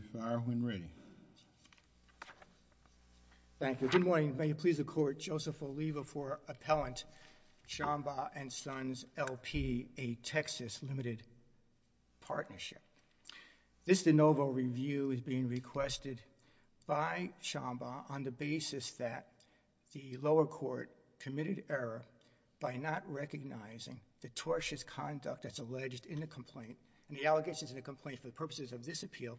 Good morning, may it please the court, Joseph Oliva for Appellant Shambaugh and Sons, L.P., a Texas Limited Partnership. This de novo review is being requested by Shambaugh on the basis that the lower court committed error by not recognizing the tortious conduct that's alleged in the complaint and the allegations in the complaint for the purposes of this appeal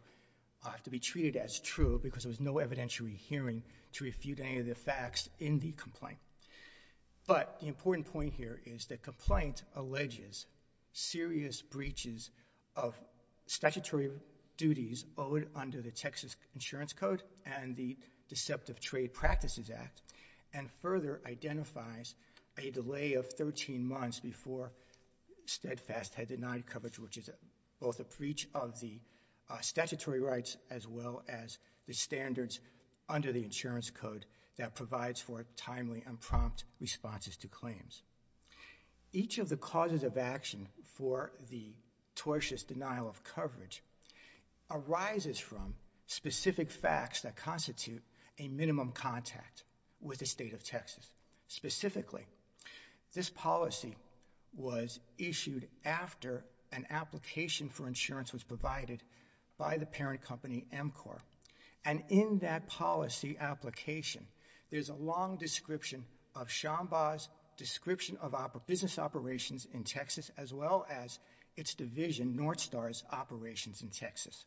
have to be treated as true because there was no evidentiary hearing to refute any of the facts in the complaint. But the important point here is the complaint alleges serious breaches of statutory duties owed under the Texas Insurance Code and the Deceptive Trade Practices Act and further identifies a delay of 13 months before Steadfast had denied coverage, which is both a breach of the statutory rights as well as the standards under the insurance code that provides for timely and prompt responses to claims. Each of the causes of action for the tortious denial of coverage arises from specific facts that constitute a minimum contact with the state of Texas. Specifically, this policy was issued after an application for insurance was provided by the parent company, Emcor. And in that policy application, there's a long description of Shambaugh's description of business operations in Texas as well as its division, Northstar's, operations in Texas.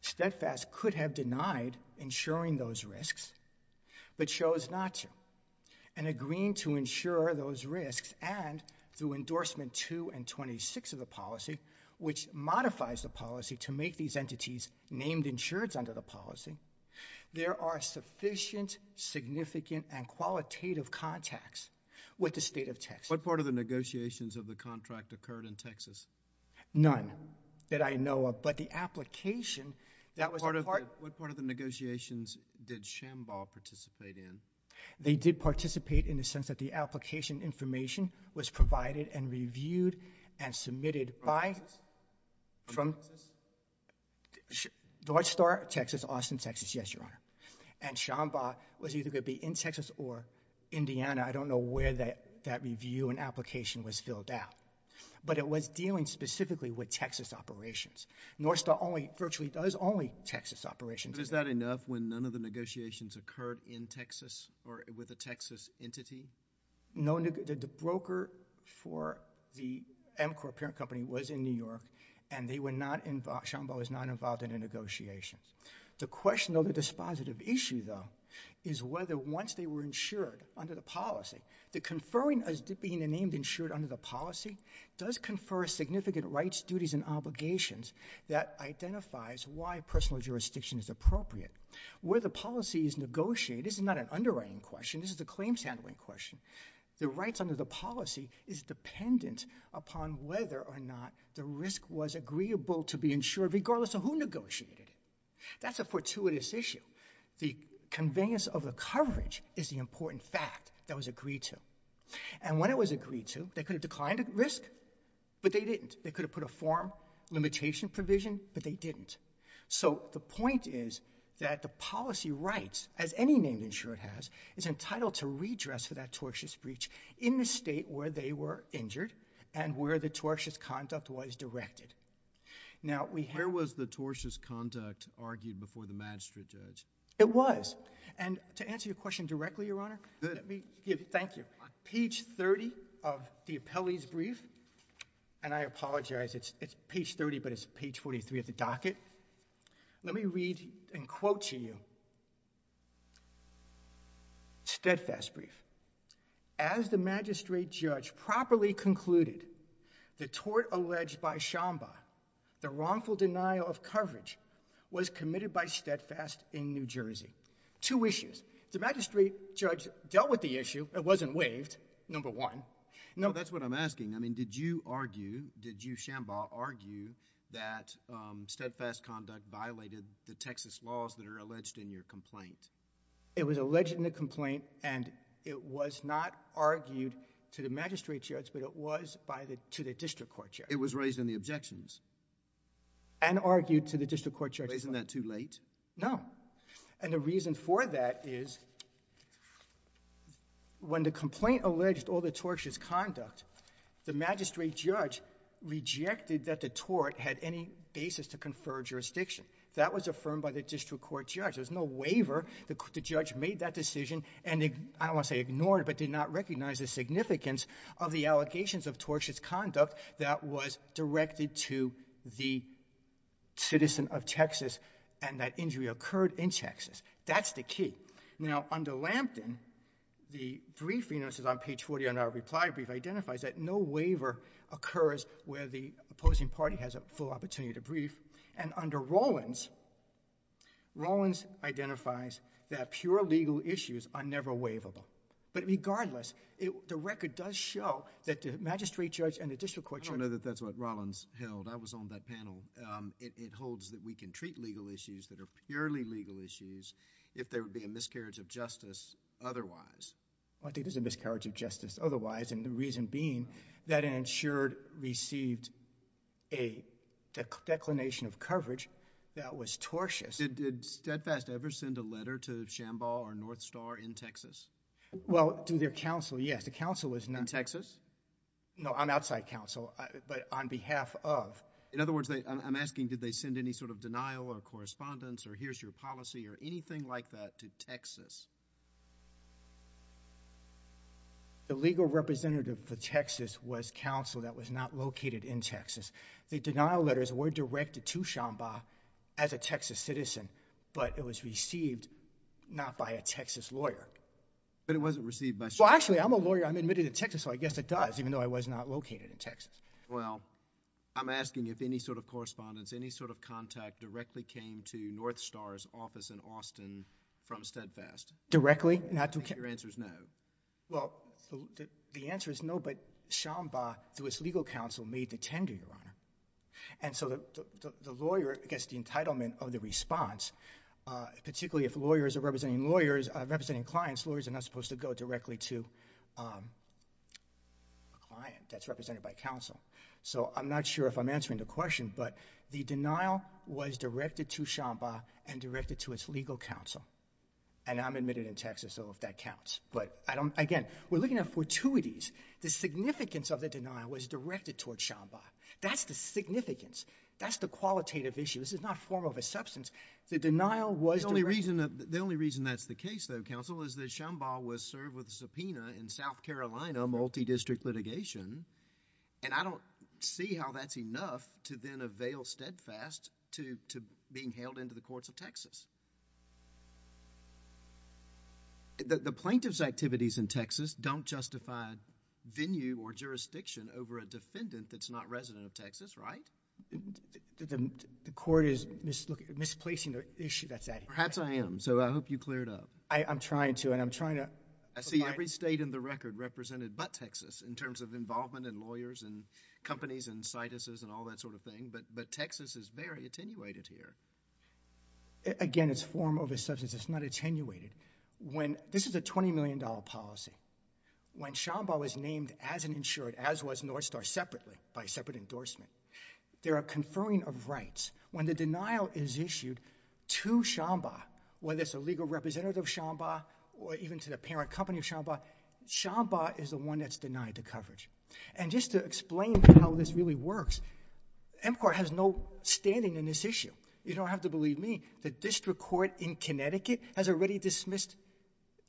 Steadfast could have denied insuring those risks but chose not to. And agreeing to insure those risks and through endorsement 2 and 26 of the policy, which modifies the policy to make these entities named insureds under the policy, there are sufficient, significant, and qualitative contacts with the state of Texas. What part of the negotiations of the contract occurred in Texas? None that I know of. But the application that was a part of it. What part of the negotiations did Shambaugh participate in? They did participate in the sense that the application information was provided and reviewed and submitted by Northstar, Texas, Austin, Texas. Yes, Your Honor. And Shambaugh was either going to be in Texas or Indiana. I don't know where that review and application was filled out. But it was dealing specifically with Texas operations. Northstar only, virtually does only Texas operations. But is that enough when none of the negotiations occurred in Texas or with a Texas entity? No, the broker for the Amcor parent company was in New York and they were not involved, Shambaugh was not involved in the negotiations. The question of the dispositive issue, though, is whether once they were insured under the policy, does confer significant rights, duties, and obligations that identifies why personal jurisdiction is appropriate. Where the policy is negotiated, this is not an underwriting question, this is a claims handling question, the rights under the policy is dependent upon whether or not the risk was agreeable to be insured regardless of who negotiated it. That's a fortuitous issue. The convenience of the coverage is the important fact that was agreed to. And when it was agreed to, they could have declined at risk, but they didn't. They could have put a form limitation provision, but they didn't. So the point is that the policy rights, as any named insurer has, is entitled to redress for that tortious breach in the state where they were injured and where the tortious conduct was directed. Now, we have... Where was the tortious conduct argued before the magistrate judge? It was. And to answer your question directly, Your Honor... Good. Thank you. On page 30 of the appellee's brief, and I apologize, it's page 30, but it's page 43 of the docket, let me read and quote to you, steadfast brief. As the magistrate judge properly concluded, the tort alleged by Shambaugh, the wrongful denial of coverage, was committed by steadfast in New Jersey. Two issues. The magistrate judge dealt with the issue. It wasn't waived, number one. No. That's what I'm asking. I mean, did you argue, did you, Shambaugh, argue that steadfast conduct violated the Texas laws that are alleged in your complaint? It was alleged in the complaint, and it was not argued to the magistrate judge, but it was to the district court judge. It was raised in the objections. And argued to the district court judge. Isn't that too late? No. And the reason for that is when the complaint alleged all the tortious conduct, the magistrate judge rejected that the tort had any basis to confer jurisdiction. That was affirmed by the district court judge. There was no waiver. The judge made that decision and, I don't want to say ignored, but did not recognize the significance of the allegations of tortious conduct that was directed to the citizen of the district court in Texas. That's the key. Now, under Lampton, the briefing, this is on page 40 on our reply brief, identifies that no waiver occurs where the opposing party has a full opportunity to brief. And under Rollins, Rollins identifies that pure legal issues are never waivable. But regardless, the record does show that the magistrate judge and the district court judge... I don't know that that's what Rollins held. I was on that panel. It holds that we can treat legal issues that are purely legal issues if there would be a miscarriage of justice otherwise. I don't think there's a miscarriage of justice otherwise, and the reason being that an insured received a declination of coverage that was tortious. Did Steadfast ever send a letter to Shamball or Northstar in Texas? Well, to their counsel, yes. The counsel was not... In Texas? No, on outside counsel, but on behalf of... In other words, I'm asking, did they send any sort of denial or correspondence or here's your policy or anything like that to Texas? The legal representative for Texas was counsel that was not located in Texas. The denial letters were directed to Shamball as a Texas citizen, but it was received not by a Texas lawyer. But it wasn't received by... Well, actually, I'm a lawyer. I'm admitted to Texas, so I guess it does, even though I was not located in Texas. Well, I'm asking you if any sort of correspondence, any sort of contact directly came to Northstar's office in Austin from Steadfast. Directly? Your answer is no. Well, the answer is no, but Shamball, through its legal counsel, made the tender, Your Honor, and so the lawyer gets the entitlement of the response, particularly if lawyers are representing clients, lawyers are not supposed to go directly to a client that's represented by counsel. So I'm not sure if I'm answering the question, but the denial was directed to Shamball and directed to its legal counsel, and I'm admitted in Texas, though, if that counts. But again, we're looking at fortuities. The significance of the denial was directed toward Shamball. That's the significance. That's the qualitative issue. This is not a form of a substance. The denial was directed... The only reason that's the case, though, counsel, is that Shamball was served with a subpoena in South Carolina, multi-district litigation, and I don't see how that's enough to then avail Steadfast to being held into the courts of Texas. The plaintiff's activities in Texas don't justify venue or jurisdiction over a defendant that's not resident of Texas, right? The court is misplacing the issue that's at hand. Perhaps I am, so I hope you cleared up. I'm trying to, and I'm trying to... I see every state in the record represented but Texas in terms of involvement and lawyers and companies and cituses and all that sort of thing, but Texas is very attenuated here. Again, it's a form of a substance. It's not attenuated. When... this is a $20 million policy. When Shamball is named as an insured, as was Northstar, separately, by a separate endorsement, there are conferring of rights. When the denial is issued to Shamball, whether it's a legal representative of Shamball or even to the parent company of Shamball, Shamball is the one that's denied the coverage. Just to explain how this really works, MCOR has no standing in this issue. You don't have to believe me. The district court in Connecticut has already dismissed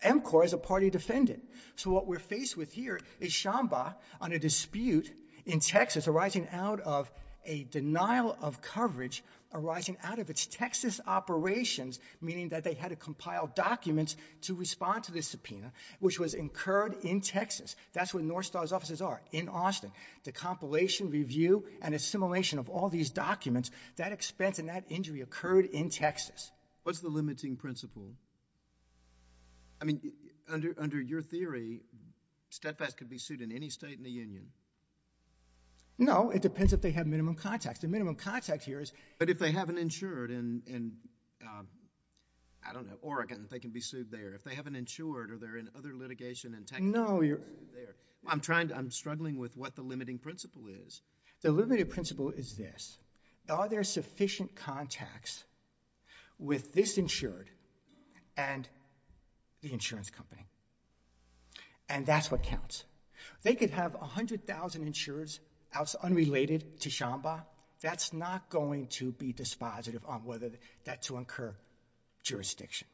MCOR as a party defendant. What we're faced with here is Shamball on a dispute in Texas arising out of a denial of coverage arising out of its Texas operations, meaning that they had to compile documents to respond to this subpoena, which was incurred in Texas. That's where Northstar's offices are, in Austin. The compilation, review, and assimilation of all these documents, that expense and that injury occurred in Texas. What's the limiting principle? I mean, under your theory, steadfast could be sued in any state in the union? No. It depends if they have minimum contacts. The minimum contact here is... But if they have an insured in, I don't know, Oregon, they can be sued there. If they have an insured or they're in other litigation... No, you're...... there. I'm struggling with what the limiting principle is. The limiting principle is this. Are there sufficient contacts with this insured and the insurance company? And that's what counts. They could have 100,000 insurers unrelated to Shamball. That's not going to be dispositive on whether that's to incur jurisdiction.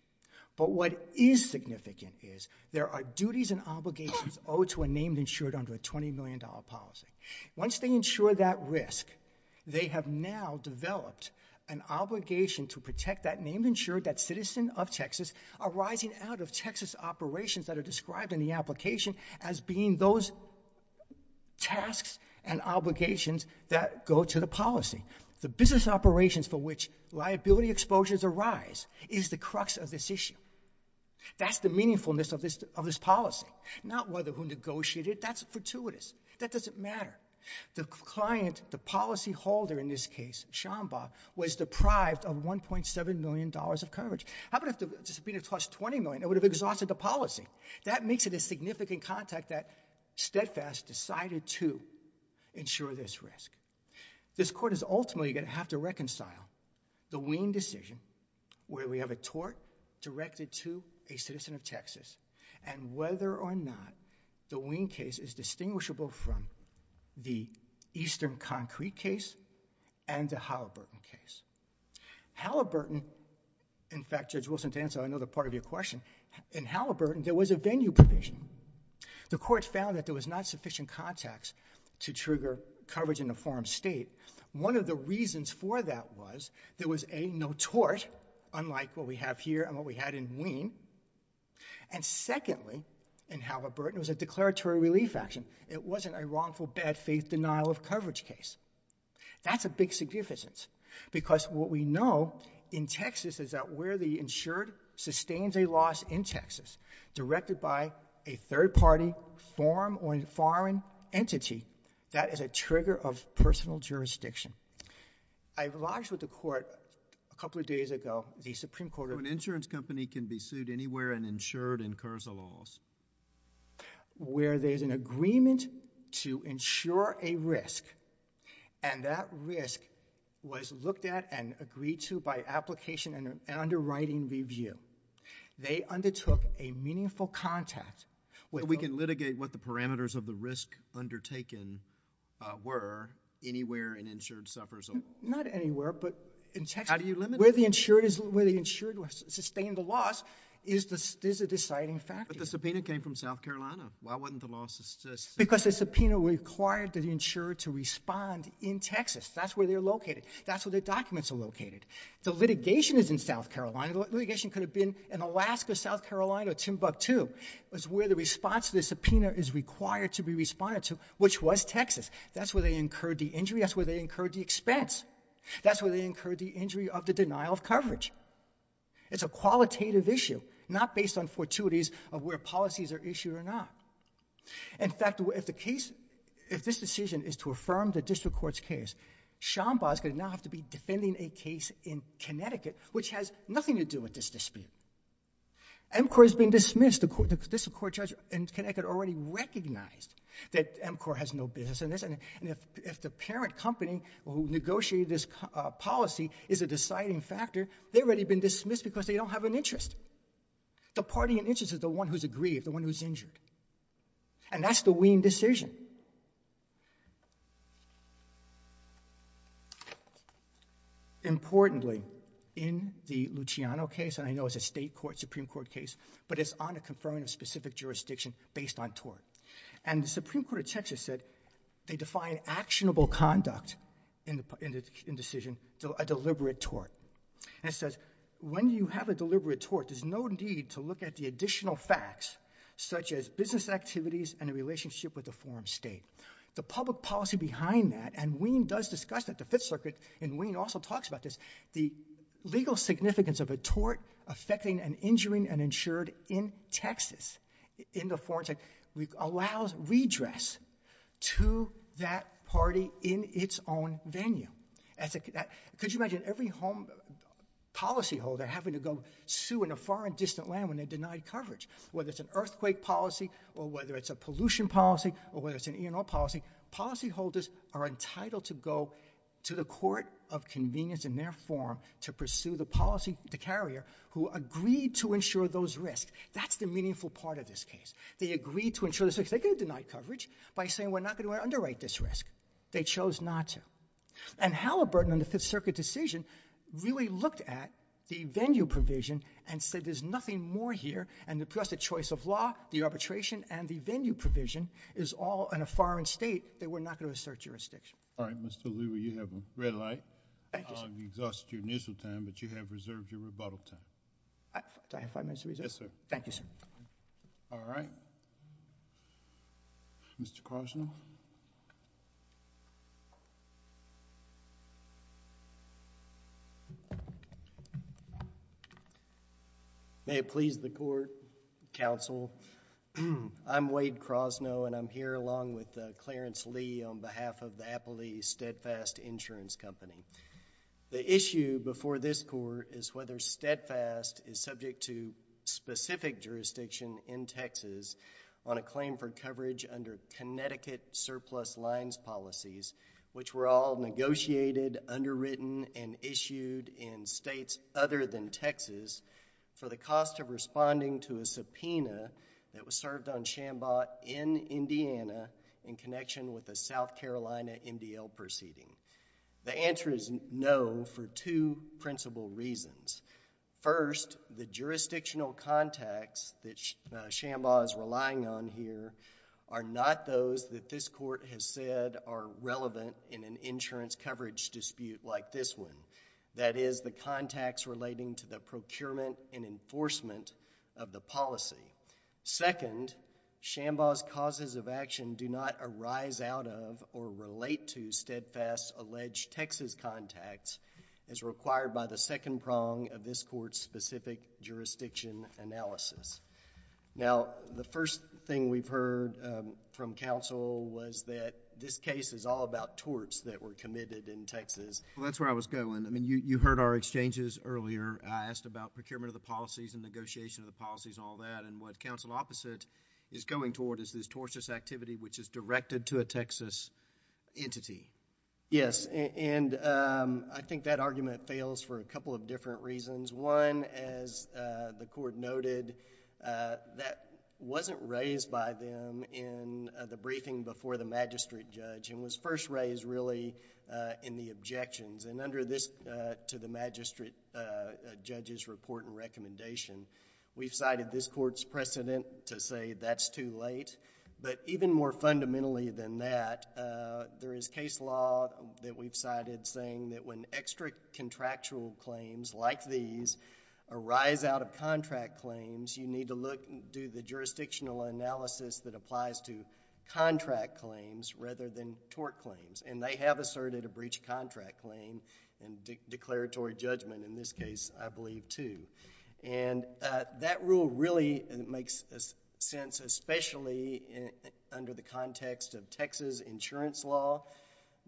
But what is significant is there are duties and obligations owed to a named insured under a $20 million policy. Once they insure that risk, they have now developed an obligation to protect that named insured, that citizen of Texas, arising out of Texas operations that are described in the application as being those tasks and obligations that go to the policy. The business operations for which liability exposures arise is the crux of this issue. That's the meaningfulness of this policy. Not whether who negotiated. That's fortuitous. That doesn't matter. The client, the policyholder in this case, Shamball, was deprived of $1.7 million of coverage. How about if the dispute had cost $20 million? It would have exhausted the policy. That makes it a significant contact that Steadfast decided to insure this risk. This court is ultimately going to have to reconcile the Wien decision where we have a tort directed to a citizen of Texas and whether or not the Wien case is distinguishable from the Eastern Concrete case and the Halliburton case. Halliburton, in fact, Judge Wilson-Tanzo, I know the part of your question, in Halliburton there was a venue provision. The court found that there was not sufficient context to trigger coverage in a foreign state. One of the reasons for that was there was a no tort, unlike what we have here and what we had in Wien, and secondly, in Halliburton, it was a declaratory relief action. It wasn't a wrongful bad faith denial of coverage case. That's a big significance because what we know in Texas is that where the insured sustains a loss in Texas directed by a third-party form or foreign entity, that is a trigger of personal jurisdiction. I lodged with the court a couple of days ago, the Supreme Court of... An insurance company can be sued anywhere and insured incurs a loss. Where there's an agreement to insure a risk and that risk was looked at and agreed to by application and underwriting review, they undertook a meaningful contact with... We can litigate what the parameters of the risk undertaken were anywhere an insured suffers a loss. Not anywhere, but in Texas. How do you limit it? Where the insured sustained a loss is a deciding factor. But the subpoena came from South Carolina. Why wasn't the loss sustained? Because the subpoena required the insured to respond in Texas. That's where they're located. That's where their documents are located. The litigation is in South Carolina. Litigation could have been in Alaska, South Carolina, or Timbuktu. It's where the response to the subpoena is required to be responded to, which was Texas. That's where they incurred the injury. That's where they incurred the expense. That's where they incurred the injury of the denial of coverage. It's a qualitative issue, not based on fortuities of where policies are issued or not. In fact, if the case, if this decision is to affirm the district court's case, Sean Bosco would now have to be defending a case in Connecticut, which has nothing to do with this dispute. MCOR has been dismissed. The district court judge in Connecticut already recognized that MCOR has no business in this. And if the parent company who negotiated this policy is a deciding factor, they've already been dismissed because they don't have an interest. The party in interest is the one who's aggrieved, the one who's injured. And that's the Wien decision. Importantly, in the Luciano case, and I know it's a state court, Supreme Court case, but it's on a confirming of specific jurisdiction based on tort. And the Supreme Court of Texas said they define actionable conduct in decision, a deliberate tort. And it says, when you have a deliberate tort, there's no need to look at the additional facts, such as business activities and a relationship with the foreign state. The public policy behind that, and Wien does discuss that, the Fifth Circuit, and Wien also talks about this, the legal significance of a tort affecting and injuring an insured in Texas, in the foreign state, allows redress to that party in its own venue. Could you imagine every home policyholder having to go sue in a foreign distant land when they're denied coverage, whether it's an earthquake policy, or whether it's a pollution policy, or whether it's an E&R policy. Policyholders are entitled to go to the court of convenience in their form to pursue the policy, the carrier, who agreed to insure those risks. That's the meaningful part of this case. They agreed to insure those risks. They could have denied coverage by saying we're not going to underwrite this risk. They chose not to. And Halliburton in the Fifth Circuit decision really looked at the venue provision and said there's nothing more here, and plus the choice of law, the arbitration, and the venue provision is all in a foreign state that we're not going to assert jurisdiction. All right, Mr. Leroy, you have red light. Thank you, sir. You exhausted your initial time, but you have reserved your rebuttal time. Do I have five minutes to reserve? Yes, sir. Thank you, sir. All right, Mr. Krosnoff? May it please the court, counsel, I'm Wade Krosnoff, and I'm here along with Clarence Lee on behalf of the Appley Steadfast Insurance Company. The issue before this court is whether Steadfast is subject to specific jurisdiction in Texas on a claim for coverage under Connecticut Surplus Lines policies, which were all negotiated, underwritten, and issued in states other than Texas for the cost of responding to a subpoena that was served on Shambaugh in Indiana in connection with a South Carolina MDL proceeding. The answer is no for two principal reasons. First, the jurisdictional contacts that Shambaugh is relying on here are not those that this court has said are relevant in an insurance coverage dispute like this one, that is, the contacts relating to the procurement and enforcement of the policy. Second, Shambaugh's causes of action do not arise out of or relate to Steadfast's alleged Texas contacts as required by the second prong of this court's specific jurisdiction analysis. Now, the first thing we've heard from counsel was that this case is all about torts that were committed in Texas. Well, that's where I was going. I mean, you heard our exchanges earlier. I asked about procurement of the policies and negotiation of the policies and all that, and what counsel opposite is going toward is this tortious activity which is directed to a Texas entity. Yes, and I think that argument fails for a couple of different reasons. One, as the court noted, that wasn't raised by them in the briefing before the magistrate judge and was first raised really in the objections, and under this to the magistrate judge's report and recommendation, we've cited this court's precedent to say that's too late, but even more fundamentally than that, there is case law that we've cited saying that when extra contractual claims like these arise out of contract claims, you need to do the jurisdictional analysis that applies to contract claims rather than tort claims, and they have asserted a breach of contract claim and declaratory judgment in this case, I believe, too. That rule really makes sense, especially under the context of Texas insurance law.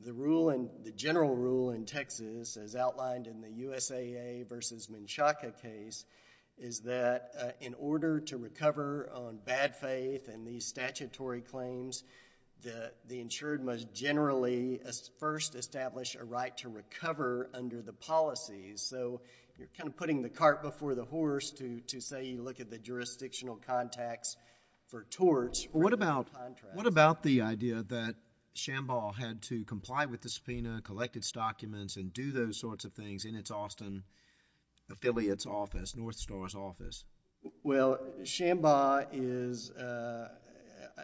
The rule in... the general rule in Texas as outlined in the USAA versus Menchaca case is that in order to recover on bad faith and these statutory claims, the insured must generally first establish a right to recover under the policies, so you're kind of putting the cart before the horse to say you look at the jurisdictional contacts for torts rather than contracts. What about the idea that Shambaugh had to comply with the subpoena, collect its documents, and do those sorts of things in its Austin affiliate's office, North Star's office? Well, Shambaugh is...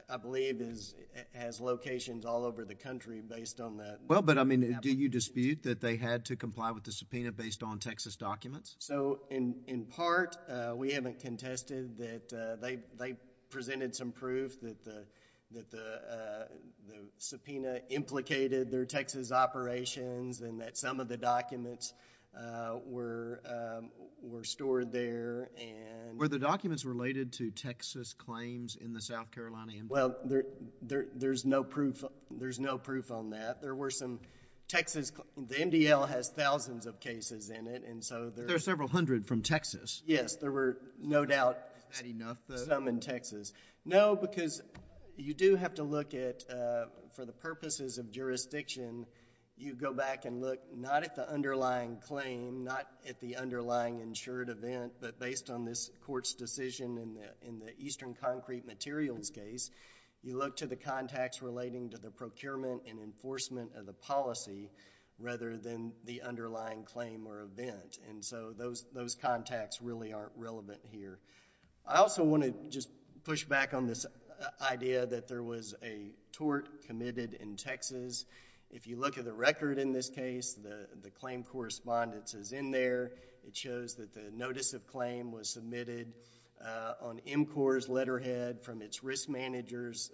I believe has locations all over the country based on that... Well, but I mean, do you dispute that they had to comply with the subpoena based on Texas documents? So in part, we haven't contested that they presented some proof that the subpoena implicated their Texas operations and that some of the documents were stored there and... Were the documents related to Texas claims in the South Carolina MDL? Well, there's no proof on that. There were some Texas... the MDL has thousands of cases in it and so... But there are several hundred from Texas. Yes. There were no doubt... Is that enough though? Some in Texas. No, because you do have to look at, for the purposes of jurisdiction, you go back and look not at the underlying claim, not at the underlying insured event, but based on this court's decision in the Eastern Concrete Materials case, you look to the contacts relating to the procurement and enforcement of the policy rather than the underlying claim or event. And so, those contacts really aren't relevant here. I also want to just push back on this idea that there was a tort committed in Texas. If you look at the record in this case, the claim correspondence is in there. It shows that the notice of claim was submitted on MCOR's letterhead from its risk manager's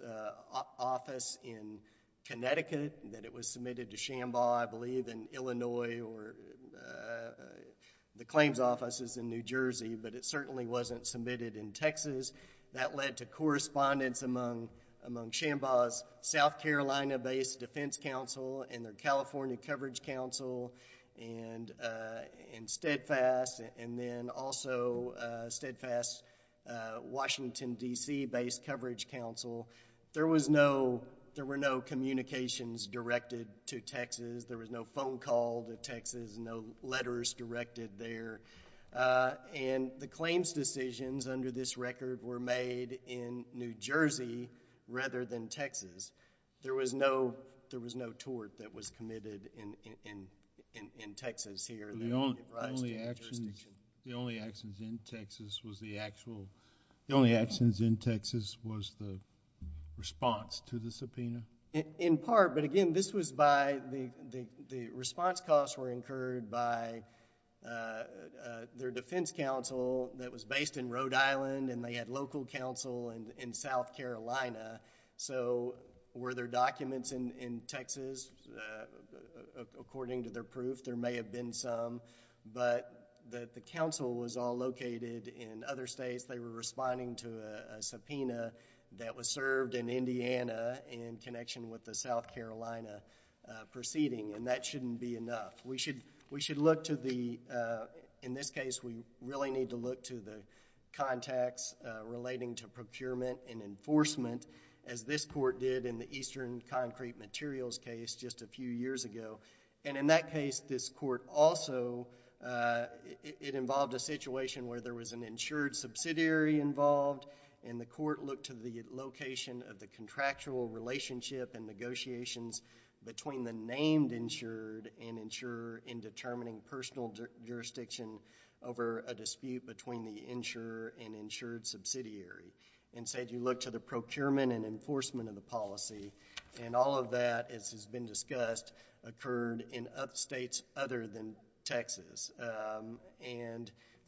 office in Connecticut, that it was submitted to the claims offices in New Jersey, but it certainly wasn't submitted in Texas. That led to correspondence among Shambaugh's South Carolina-based Defense Council and the California Coverage Council and Steadfast and then also Steadfast Washington, D.C.-based Coverage Council. There were no communications directed to Texas. There was no phone call to Texas, no letters directed there, and the claims decisions under this record were made in New Jersey rather than Texas. There was no tort that was committed in Texas here. The only actions in Texas was the response to the subpoena? In part, but again, this was by... the response costs were incurred by their defense council that was based in Rhode Island and they had local council in South Carolina. Were there documents in Texas? According to their proof, there may have been some, but the council was all located in other states. They were responding to a subpoena that was served in connection with the South Carolina proceeding and that shouldn't be enough. We should look to the... in this case, we really need to look to the contacts relating to procurement and enforcement as this court did in the Eastern Concrete Materials case just a few years ago. In that case, this court also... it involved a situation where there was an insured subsidiary involved and the court looked to the location of the contractual relationship and negotiations between the named insured and insurer in determining personal jurisdiction over a dispute between the insurer and insured subsidiary. Instead, you look to the procurement and enforcement of the policy. All of that, as has been discussed, occurred in upstates other than Texas.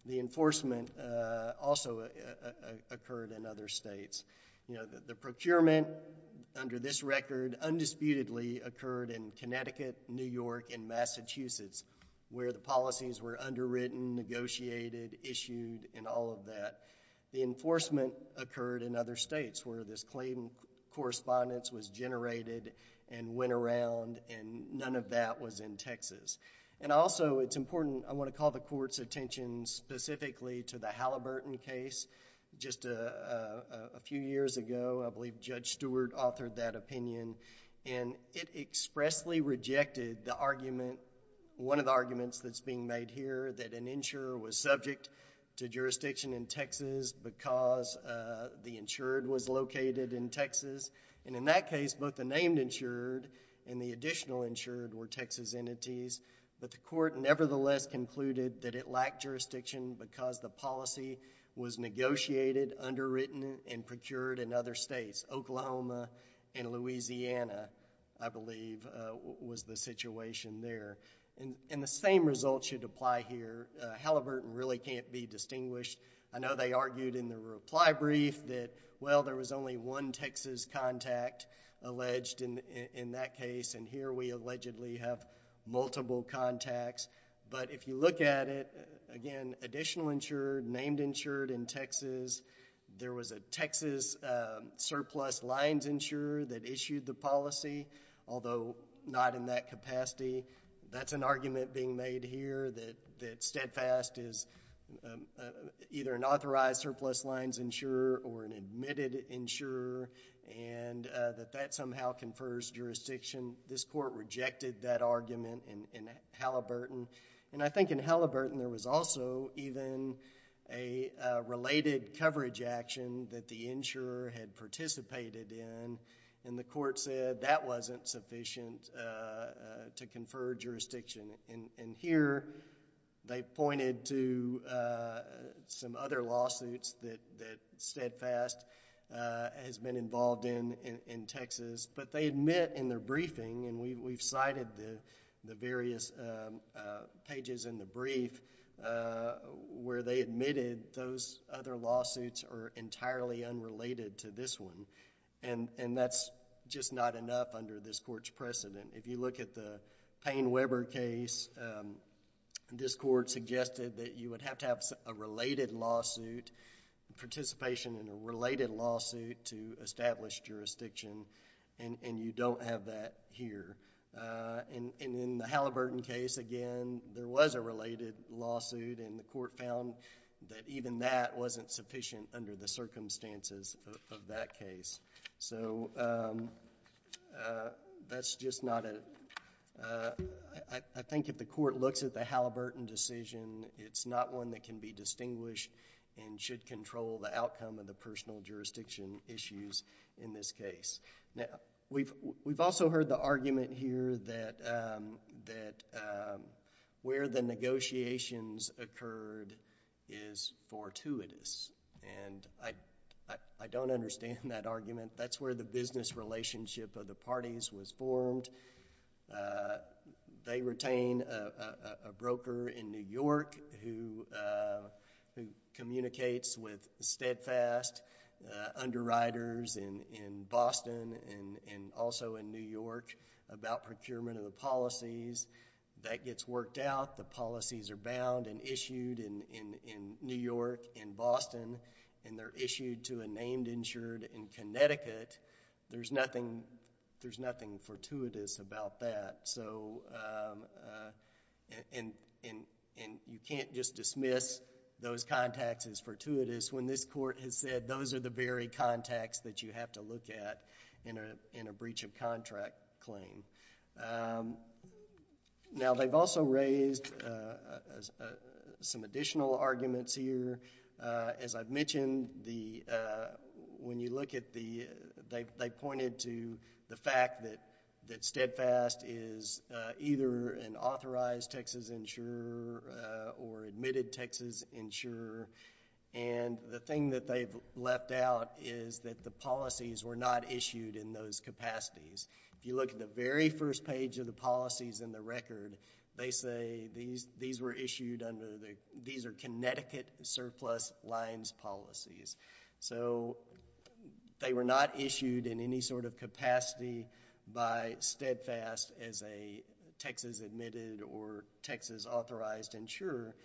The enforcement also occurred in other states. The procurement, under this record, undisputedly occurred in Connecticut, New York, and Massachusetts where the policies were underwritten, negotiated, issued, and all of that. The enforcement occurred in other states where this claim correspondence was generated and went around and none of that was in Texas. Also, it's important, I want to call the court's attention specifically to the case a few years ago. I believe Judge Stewart authored that opinion and it expressly rejected the argument, one of the arguments that's being made here, that an insurer was subject to jurisdiction in Texas because the insured was located in Texas. In that case, both the named insured and the additional insured were Texas entities, but the court nevertheless concluded that it lacked Oklahoma and Louisiana, I believe, was the situation there. The same result should apply here. Halliburton really can't be distinguished. I know they argued in the reply brief that, well, there was only one Texas contact alleged in that case and here we allegedly have multiple contacts, but if you look at it, again, additional insured, named insured in Texas, there was a Texas surplus lines insurer that issued the policy, although not in that capacity. That's an argument being made here that steadfast is either an authorized surplus lines insurer or an admitted insurer and that that somehow confers jurisdiction. This court rejected that argument in Halliburton. I think in Halliburton there was also even a related coverage action that the insurer had participated in and the court said that wasn't sufficient to confer jurisdiction. Here they pointed to some other lawsuits that steadfast has been involved in Texas, but they admit in their briefing and we've cited the various pages in the brief where they admitted those other lawsuits are entirely unrelated to this one and that's just not enough under this court's precedent. If you look at the Payne-Weber case, this court suggested that you would have to have a related lawsuit, participation in a related lawsuit to establish jurisdiction and you don't have that here. In the Halliburton case, again, there was a related lawsuit and the court found that even that wasn't sufficient under the circumstances of that case. That's just not... I think if the court looks at the Halliburton decision, it's not one that can be distinguished and should control the outcome of the personal jurisdiction issues in this case. Now, we've also heard the argument here that where the negotiations occurred is fortuitous and I don't understand that argument. That's where the business relationship of the parties was formed. They retain a broker in New York who communicates with steadfast underwriters in Boston and also in New York about procurement of the policies. That gets worked out. The policies are bound and issued in New York, in Boston and they're issued to a named insured in Connecticut. There's nothing fortuitous about that and you can't just dismiss those contacts as fortuitous when this court has said those are the very contacts that you have to look at in a breach of contract claim. Now, they've also raised some additional arguments here. As I've mentioned, when you look at the... they pointed to the fact that they're an insurer and the thing that they've left out is that the policies were not issued in those capacities. If you look at the very first page of the policies in the record, they say these were issued under the... these are Connecticut surplus lines policies. They were not issued in any sort of capacity by Steadfast as a Texas-admitted or Texas-authorized insurer.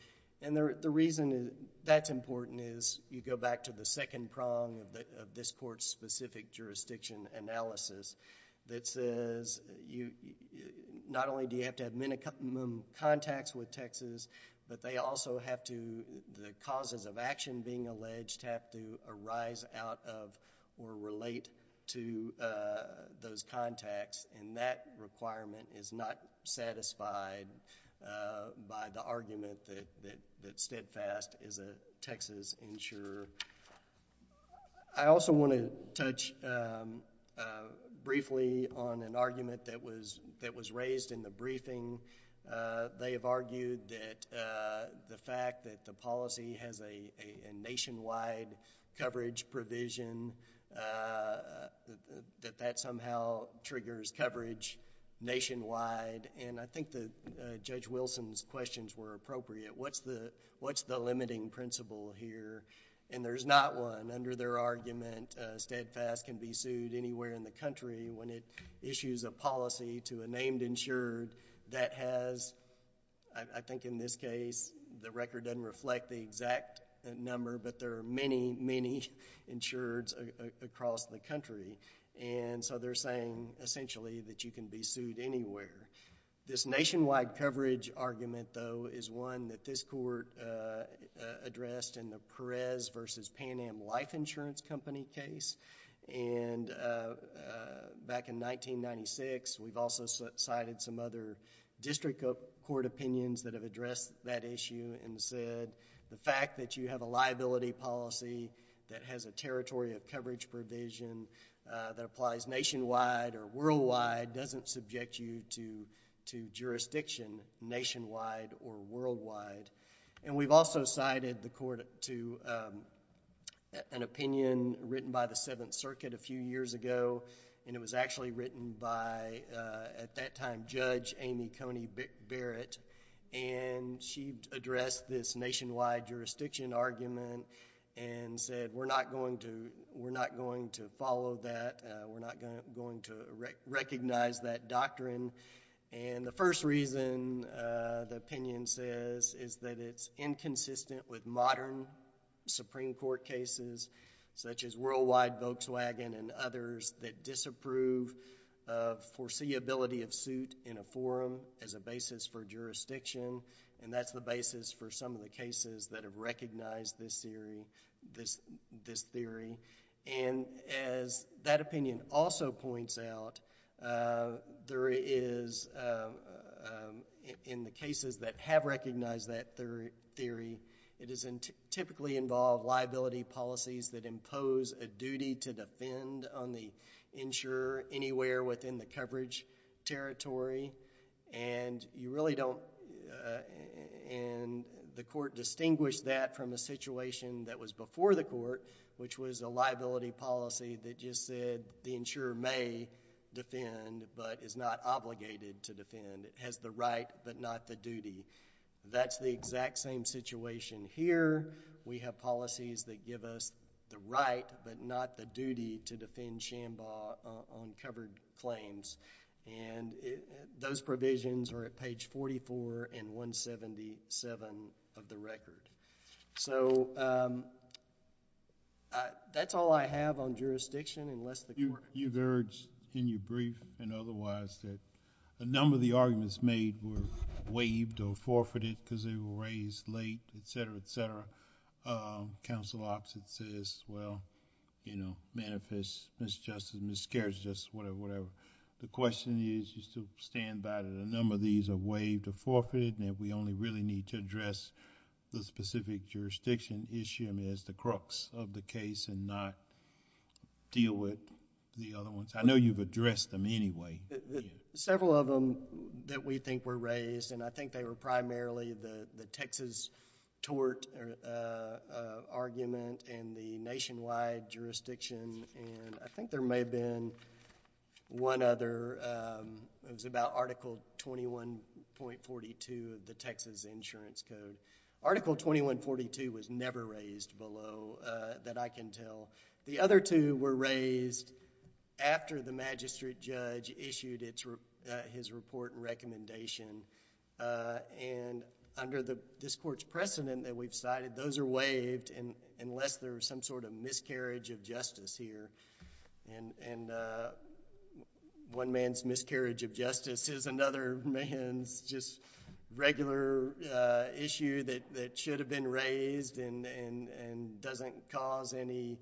The reason that's important is you go back to the second prong of this court's specific jurisdiction analysis that says not only do you have to have minimum contacts with Texas, but they also have to... the causes of action being alleged have to arise out of or relate to those contacts and that requirement is not that Steadfast is a Texas insurer. I also want to touch briefly on an argument that was raised in the briefing. They have argued that the fact that the policy has a nationwide coverage provision, that that somehow triggers coverage nationwide. I think Judge Wilson's questions were appropriate. What's the limiting principle here? There's not one. Under their argument, Steadfast can be sued anywhere in the country when it issues a policy to a named insured that has, I think in this case, the record doesn't reflect the exact number, but there are many, many insureds across the country. They're saying essentially that you can be sued anywhere. This nationwide coverage argument though is one that this court addressed in the Perez versus Pan Am Life Insurance Company case. Back in 1996, we've also cited some other district court opinions that have addressed that issue and said the fact that you have a liability policy that has a territory of that applies nationwide or worldwide doesn't subject you to jurisdiction nationwide or worldwide. We've also cited the court to an opinion written by the Seventh Circuit a few years ago. It was actually written by, at that time, Judge Amy Coney Barrett. She addressed this nationwide jurisdiction argument and said we're not going to follow that. We're not going to recognize that doctrine. The first reason the opinion says is that it's inconsistent with modern Supreme Court cases such as Worldwide Volkswagen and others that disapprove of foreseeability of suit in a forum as a basis for jurisdiction. That's the basis for some of the cases that have recognized this theory. As that opinion also points out, there is, in the cases that have recognized that theory, it is typically involved liability policies that impose a duty to defend on the insurer anywhere within the coverage territory. You really don't... The court distinguished that from a situation that was before the court which was a liability policy that just said the insurer may defend but is not obligated to defend. It has the right but not the duty. That's the exact same situation here. We have policies that give us the right but not the duty to defend Shambaugh on covered claims. Those provisions are at page 44 and 177 of the record. That's all I have on jurisdiction unless the court... You've urged in your brief and otherwise that a number of the arguments made were waived or forfeited because they were raised late, etc., etc. Counsel opposite says, well, manifest misjustice, miscarriage of justice, whatever, whatever. The question is just to stand by that a number of these are waived or forfeited and if we the case and not deal with the other ones. I know you've addressed them anyway. Several of them that we think were raised and I think they were primarily the Texas tort argument and the nationwide jurisdiction. I think there may have been one other. It was about Article 21.42 of the Texas Insurance Code. Article 21.42 was never raised below that I can tell. The other two were raised after the magistrate judge issued his report and recommendation. Under this court's precedent that we've cited, those are waived unless there's some sort of miscarriage of justice here. One man's miscarriage of justice is another man's just regular issue that should have been raised and doesn't cause any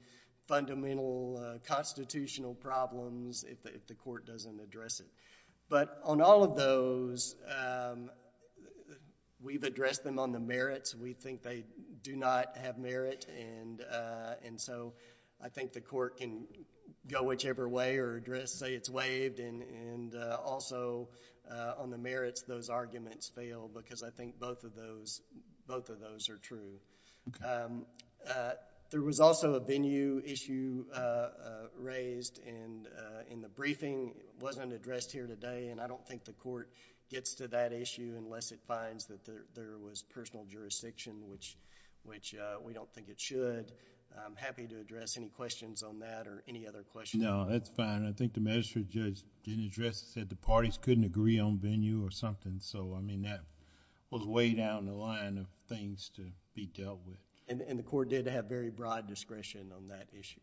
fundamental constitutional problems if the court doesn't address it. On all of those, we've addressed them on the merits. We think they do not have merit. I think the court can go whichever way or say it's waived and also on the merits those arguments fail because I think both of those are true. There was also a venue issue raised and the briefing wasn't addressed here today and I don't think it should. I'm happy to address any questions on that or any other questions. No, that's fine. I think the magistrate judge didn't address it. He said the parties couldn't agree on venue or something. That was way down the line of things to be dealt with. The court did have very broad discretion on that issue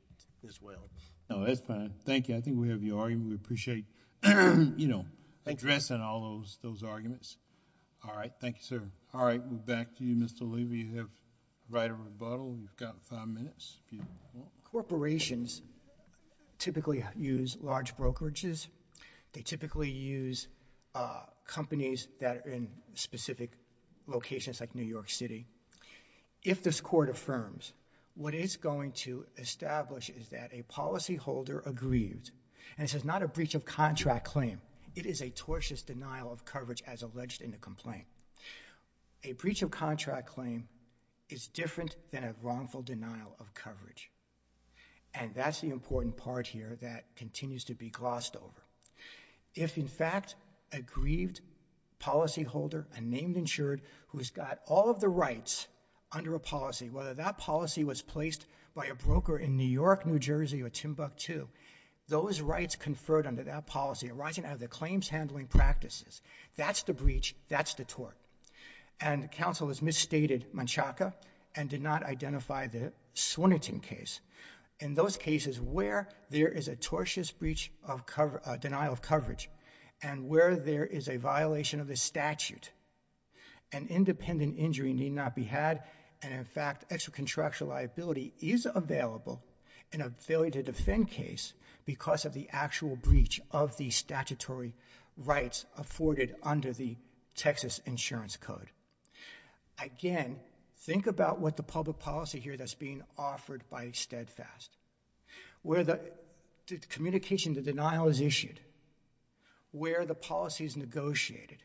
as well. No, that's fine. Thank you. I think we have your argument. We appreciate addressing all those arguments. Thank you. Thank you. Thank you. Thank you. Thank you. Thank you. Thank you. Thank you. Thank you. Thank you. Thank you. Mr. Luby. You have the right of rebuttal. You've got five minutes if you want. Corporations typically use large brokerages. They typically use companies that are in specific locations like New York City. If this Court affirms, what it's going to establish is that a policyholder aggrieved and it's not a breach of contract claim. It is a tortious denial of coverage as alleged in the complaint. A breach of contract claim is different than a wrongful denial of coverage. And that's the important part here that continues to be glossed over. If in fact a grieved policyholder, a named insured, who's got all of the rights under a policy, whether that policy was placed by a broker in New York, New Jersey, or Timbuk2, those rights conferred under that policy arising out of the claims handling practices, that's the breach, that's the tort. And counsel has misstated Manchaca and did not identify the Swinerton case. In those cases where there is a tortious breach of cover—denial of coverage and where there is a violation of the statute, an independent injury need not be had and in fact extra contractual liability is available in a failure to defend case because of the actual breach of the statutory rights afforded under the Texas Insurance Code. Again, think about what the public policy here that's being offered by Steadfast. Where the communication, the denial is issued, where the policy is negotiated,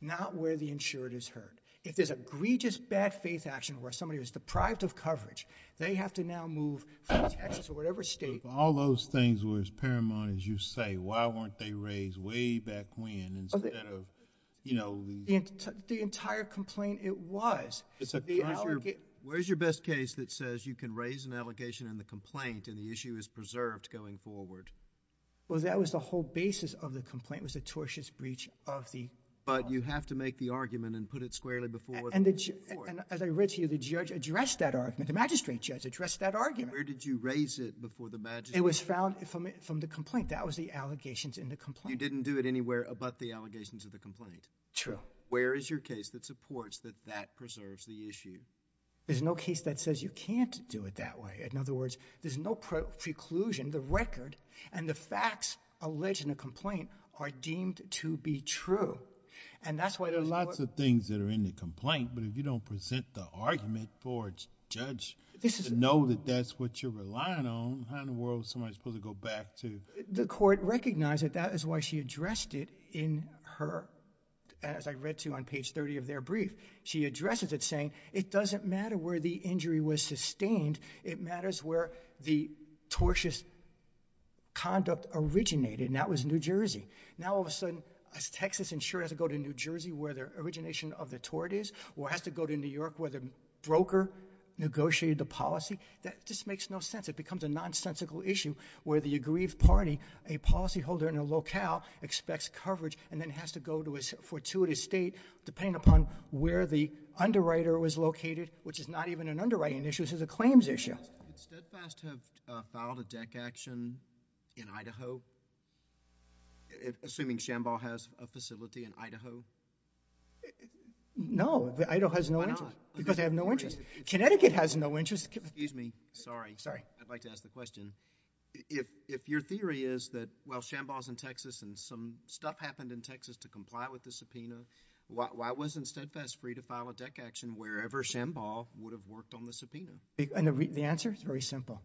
not where the insured is heard. If there's a egregious bad faith action where somebody was deprived of coverage, they have to now move from Texas or whatever state— All those things were as paramount as you say, why weren't they raised way back when instead of, you know— The entire complaint, it was. Where's your best case that says you can raise an allegation in the complaint and the issue is preserved going forward? Well, that was the whole basis of the complaint was a tortious breach of the— But you have to make the argument and put it squarely before— And as I read to you, the judge addressed that argument, the magistrate judge addressed that argument. Where did you raise it before the magistrate? It was found from the complaint. That was the allegations in the complaint. You didn't do it anywhere about the allegations of the complaint? True. Where is your case that supports that that preserves the issue? There's no case that says you can't do it that way. In other words, there's no preclusion. The record and the facts alleged in a complaint are deemed to be true and that's why— There's lots of things that are in the complaint, but if you don't present the argument for the judge to know that that's what you're relying on, how in the world is somebody supposed to go back to— The court recognized that that is why she addressed it in her—as I read to you on page 30 of their brief. She addresses it saying it doesn't matter where the injury was sustained. It matters where the tortious conduct originated and that was New Jersey. Now all of a sudden, a Texas insurer has to go to New Jersey where the origination of the tort is or has to go to New York where the broker negotiated the policy. That just makes no sense. It becomes a nonsensical issue where the aggrieved party, a policyholder in a locale, expects coverage and then has to go to a fortuitous state depending upon where the underwriter was located, which is not even an underwriting issue. This is a claims issue. Would Steadfast have filed a deck action in Idaho, assuming Shamball has a facility in Idaho? No. Idaho has no interest. Why not? Because they have no interest. Connecticut has no interest. Excuse me. Sorry. Sorry. I'd like to ask the question. If your theory is that while Shamball is in Texas and some stuff happened in Texas to comply with the subpoena, why wasn't Steadfast free to file a deck action wherever Shamball would have worked on the subpoena? The answer is very simple.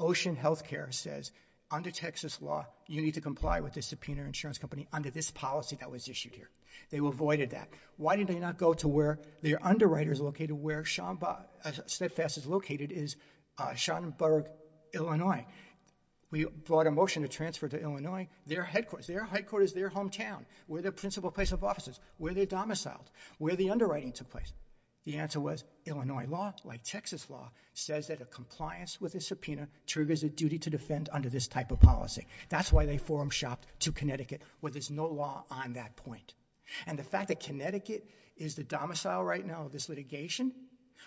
Ocean Healthcare says, under Texas law, you need to comply with the subpoena insurance company under this policy that was issued here. They avoided that. Why did they not go to where their underwriter is located, where Steadfast is located, is Schoenberg, Illinois? We brought a motion to transfer to Illinois, their headquarters. Their headquarters, their hometown, where the principal place of office is, where they domiciled, where the underwriting took place. The answer was, Illinois law, like Texas law, says that a compliance with a subpoena triggers a duty to defend under this type of policy. That's why they forum shopped to Connecticut, where there's no law on that point. And the fact that Connecticut is the domicile right now of this litigation,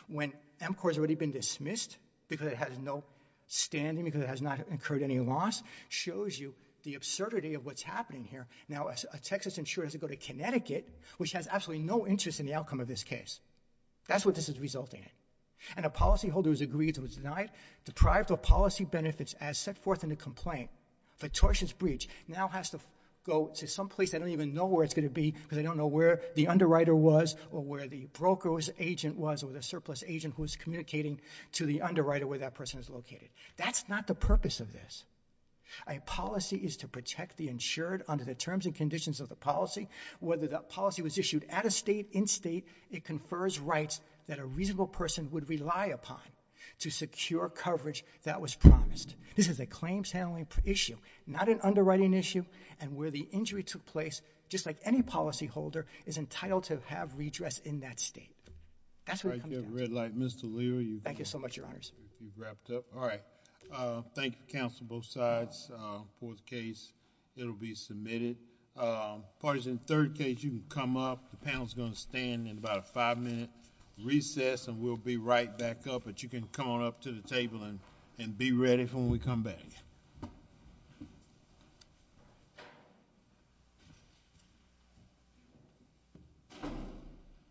when MCOR has already been dismissed because it has no standing, because it has not incurred any loss, shows you the absurdity of what's happening here. Now a Texas insurer has to go to Connecticut, which has absolutely no interest in the outcome of this case. That's what this is resulting in. And a policyholder who's agreed to it's denied, deprived of policy benefits as set forth in the complaint, fictitious breach, now has to go to some place they don't even know where it's going to be because they don't know where the underwriter was or where the broker's agent was or the surplus agent who was communicating to the underwriter where that person is located. That's not the purpose of this. A policy is to protect the insured under the terms and conditions of the policy, whether that policy was issued at a state, in state, it confers rights that a reasonable person would rely upon to secure coverage that was promised. This is a claims handling issue, not an underwriting issue. And where the injury took place, just like any policyholder, is entitled to have redress in that state. That's where it comes down to. All right. You have a red light. Mr. Leroy, you've- Thank you so much, Your Honors. You've wrapped up. All right. Thank you, counsel, both sides. Fourth case, it'll be submitted. Parties in the third case, you can come up. The panel's going to stand in about a five-minute recess, and we'll be right back up, but you can come on up to the table and be ready for when we come back.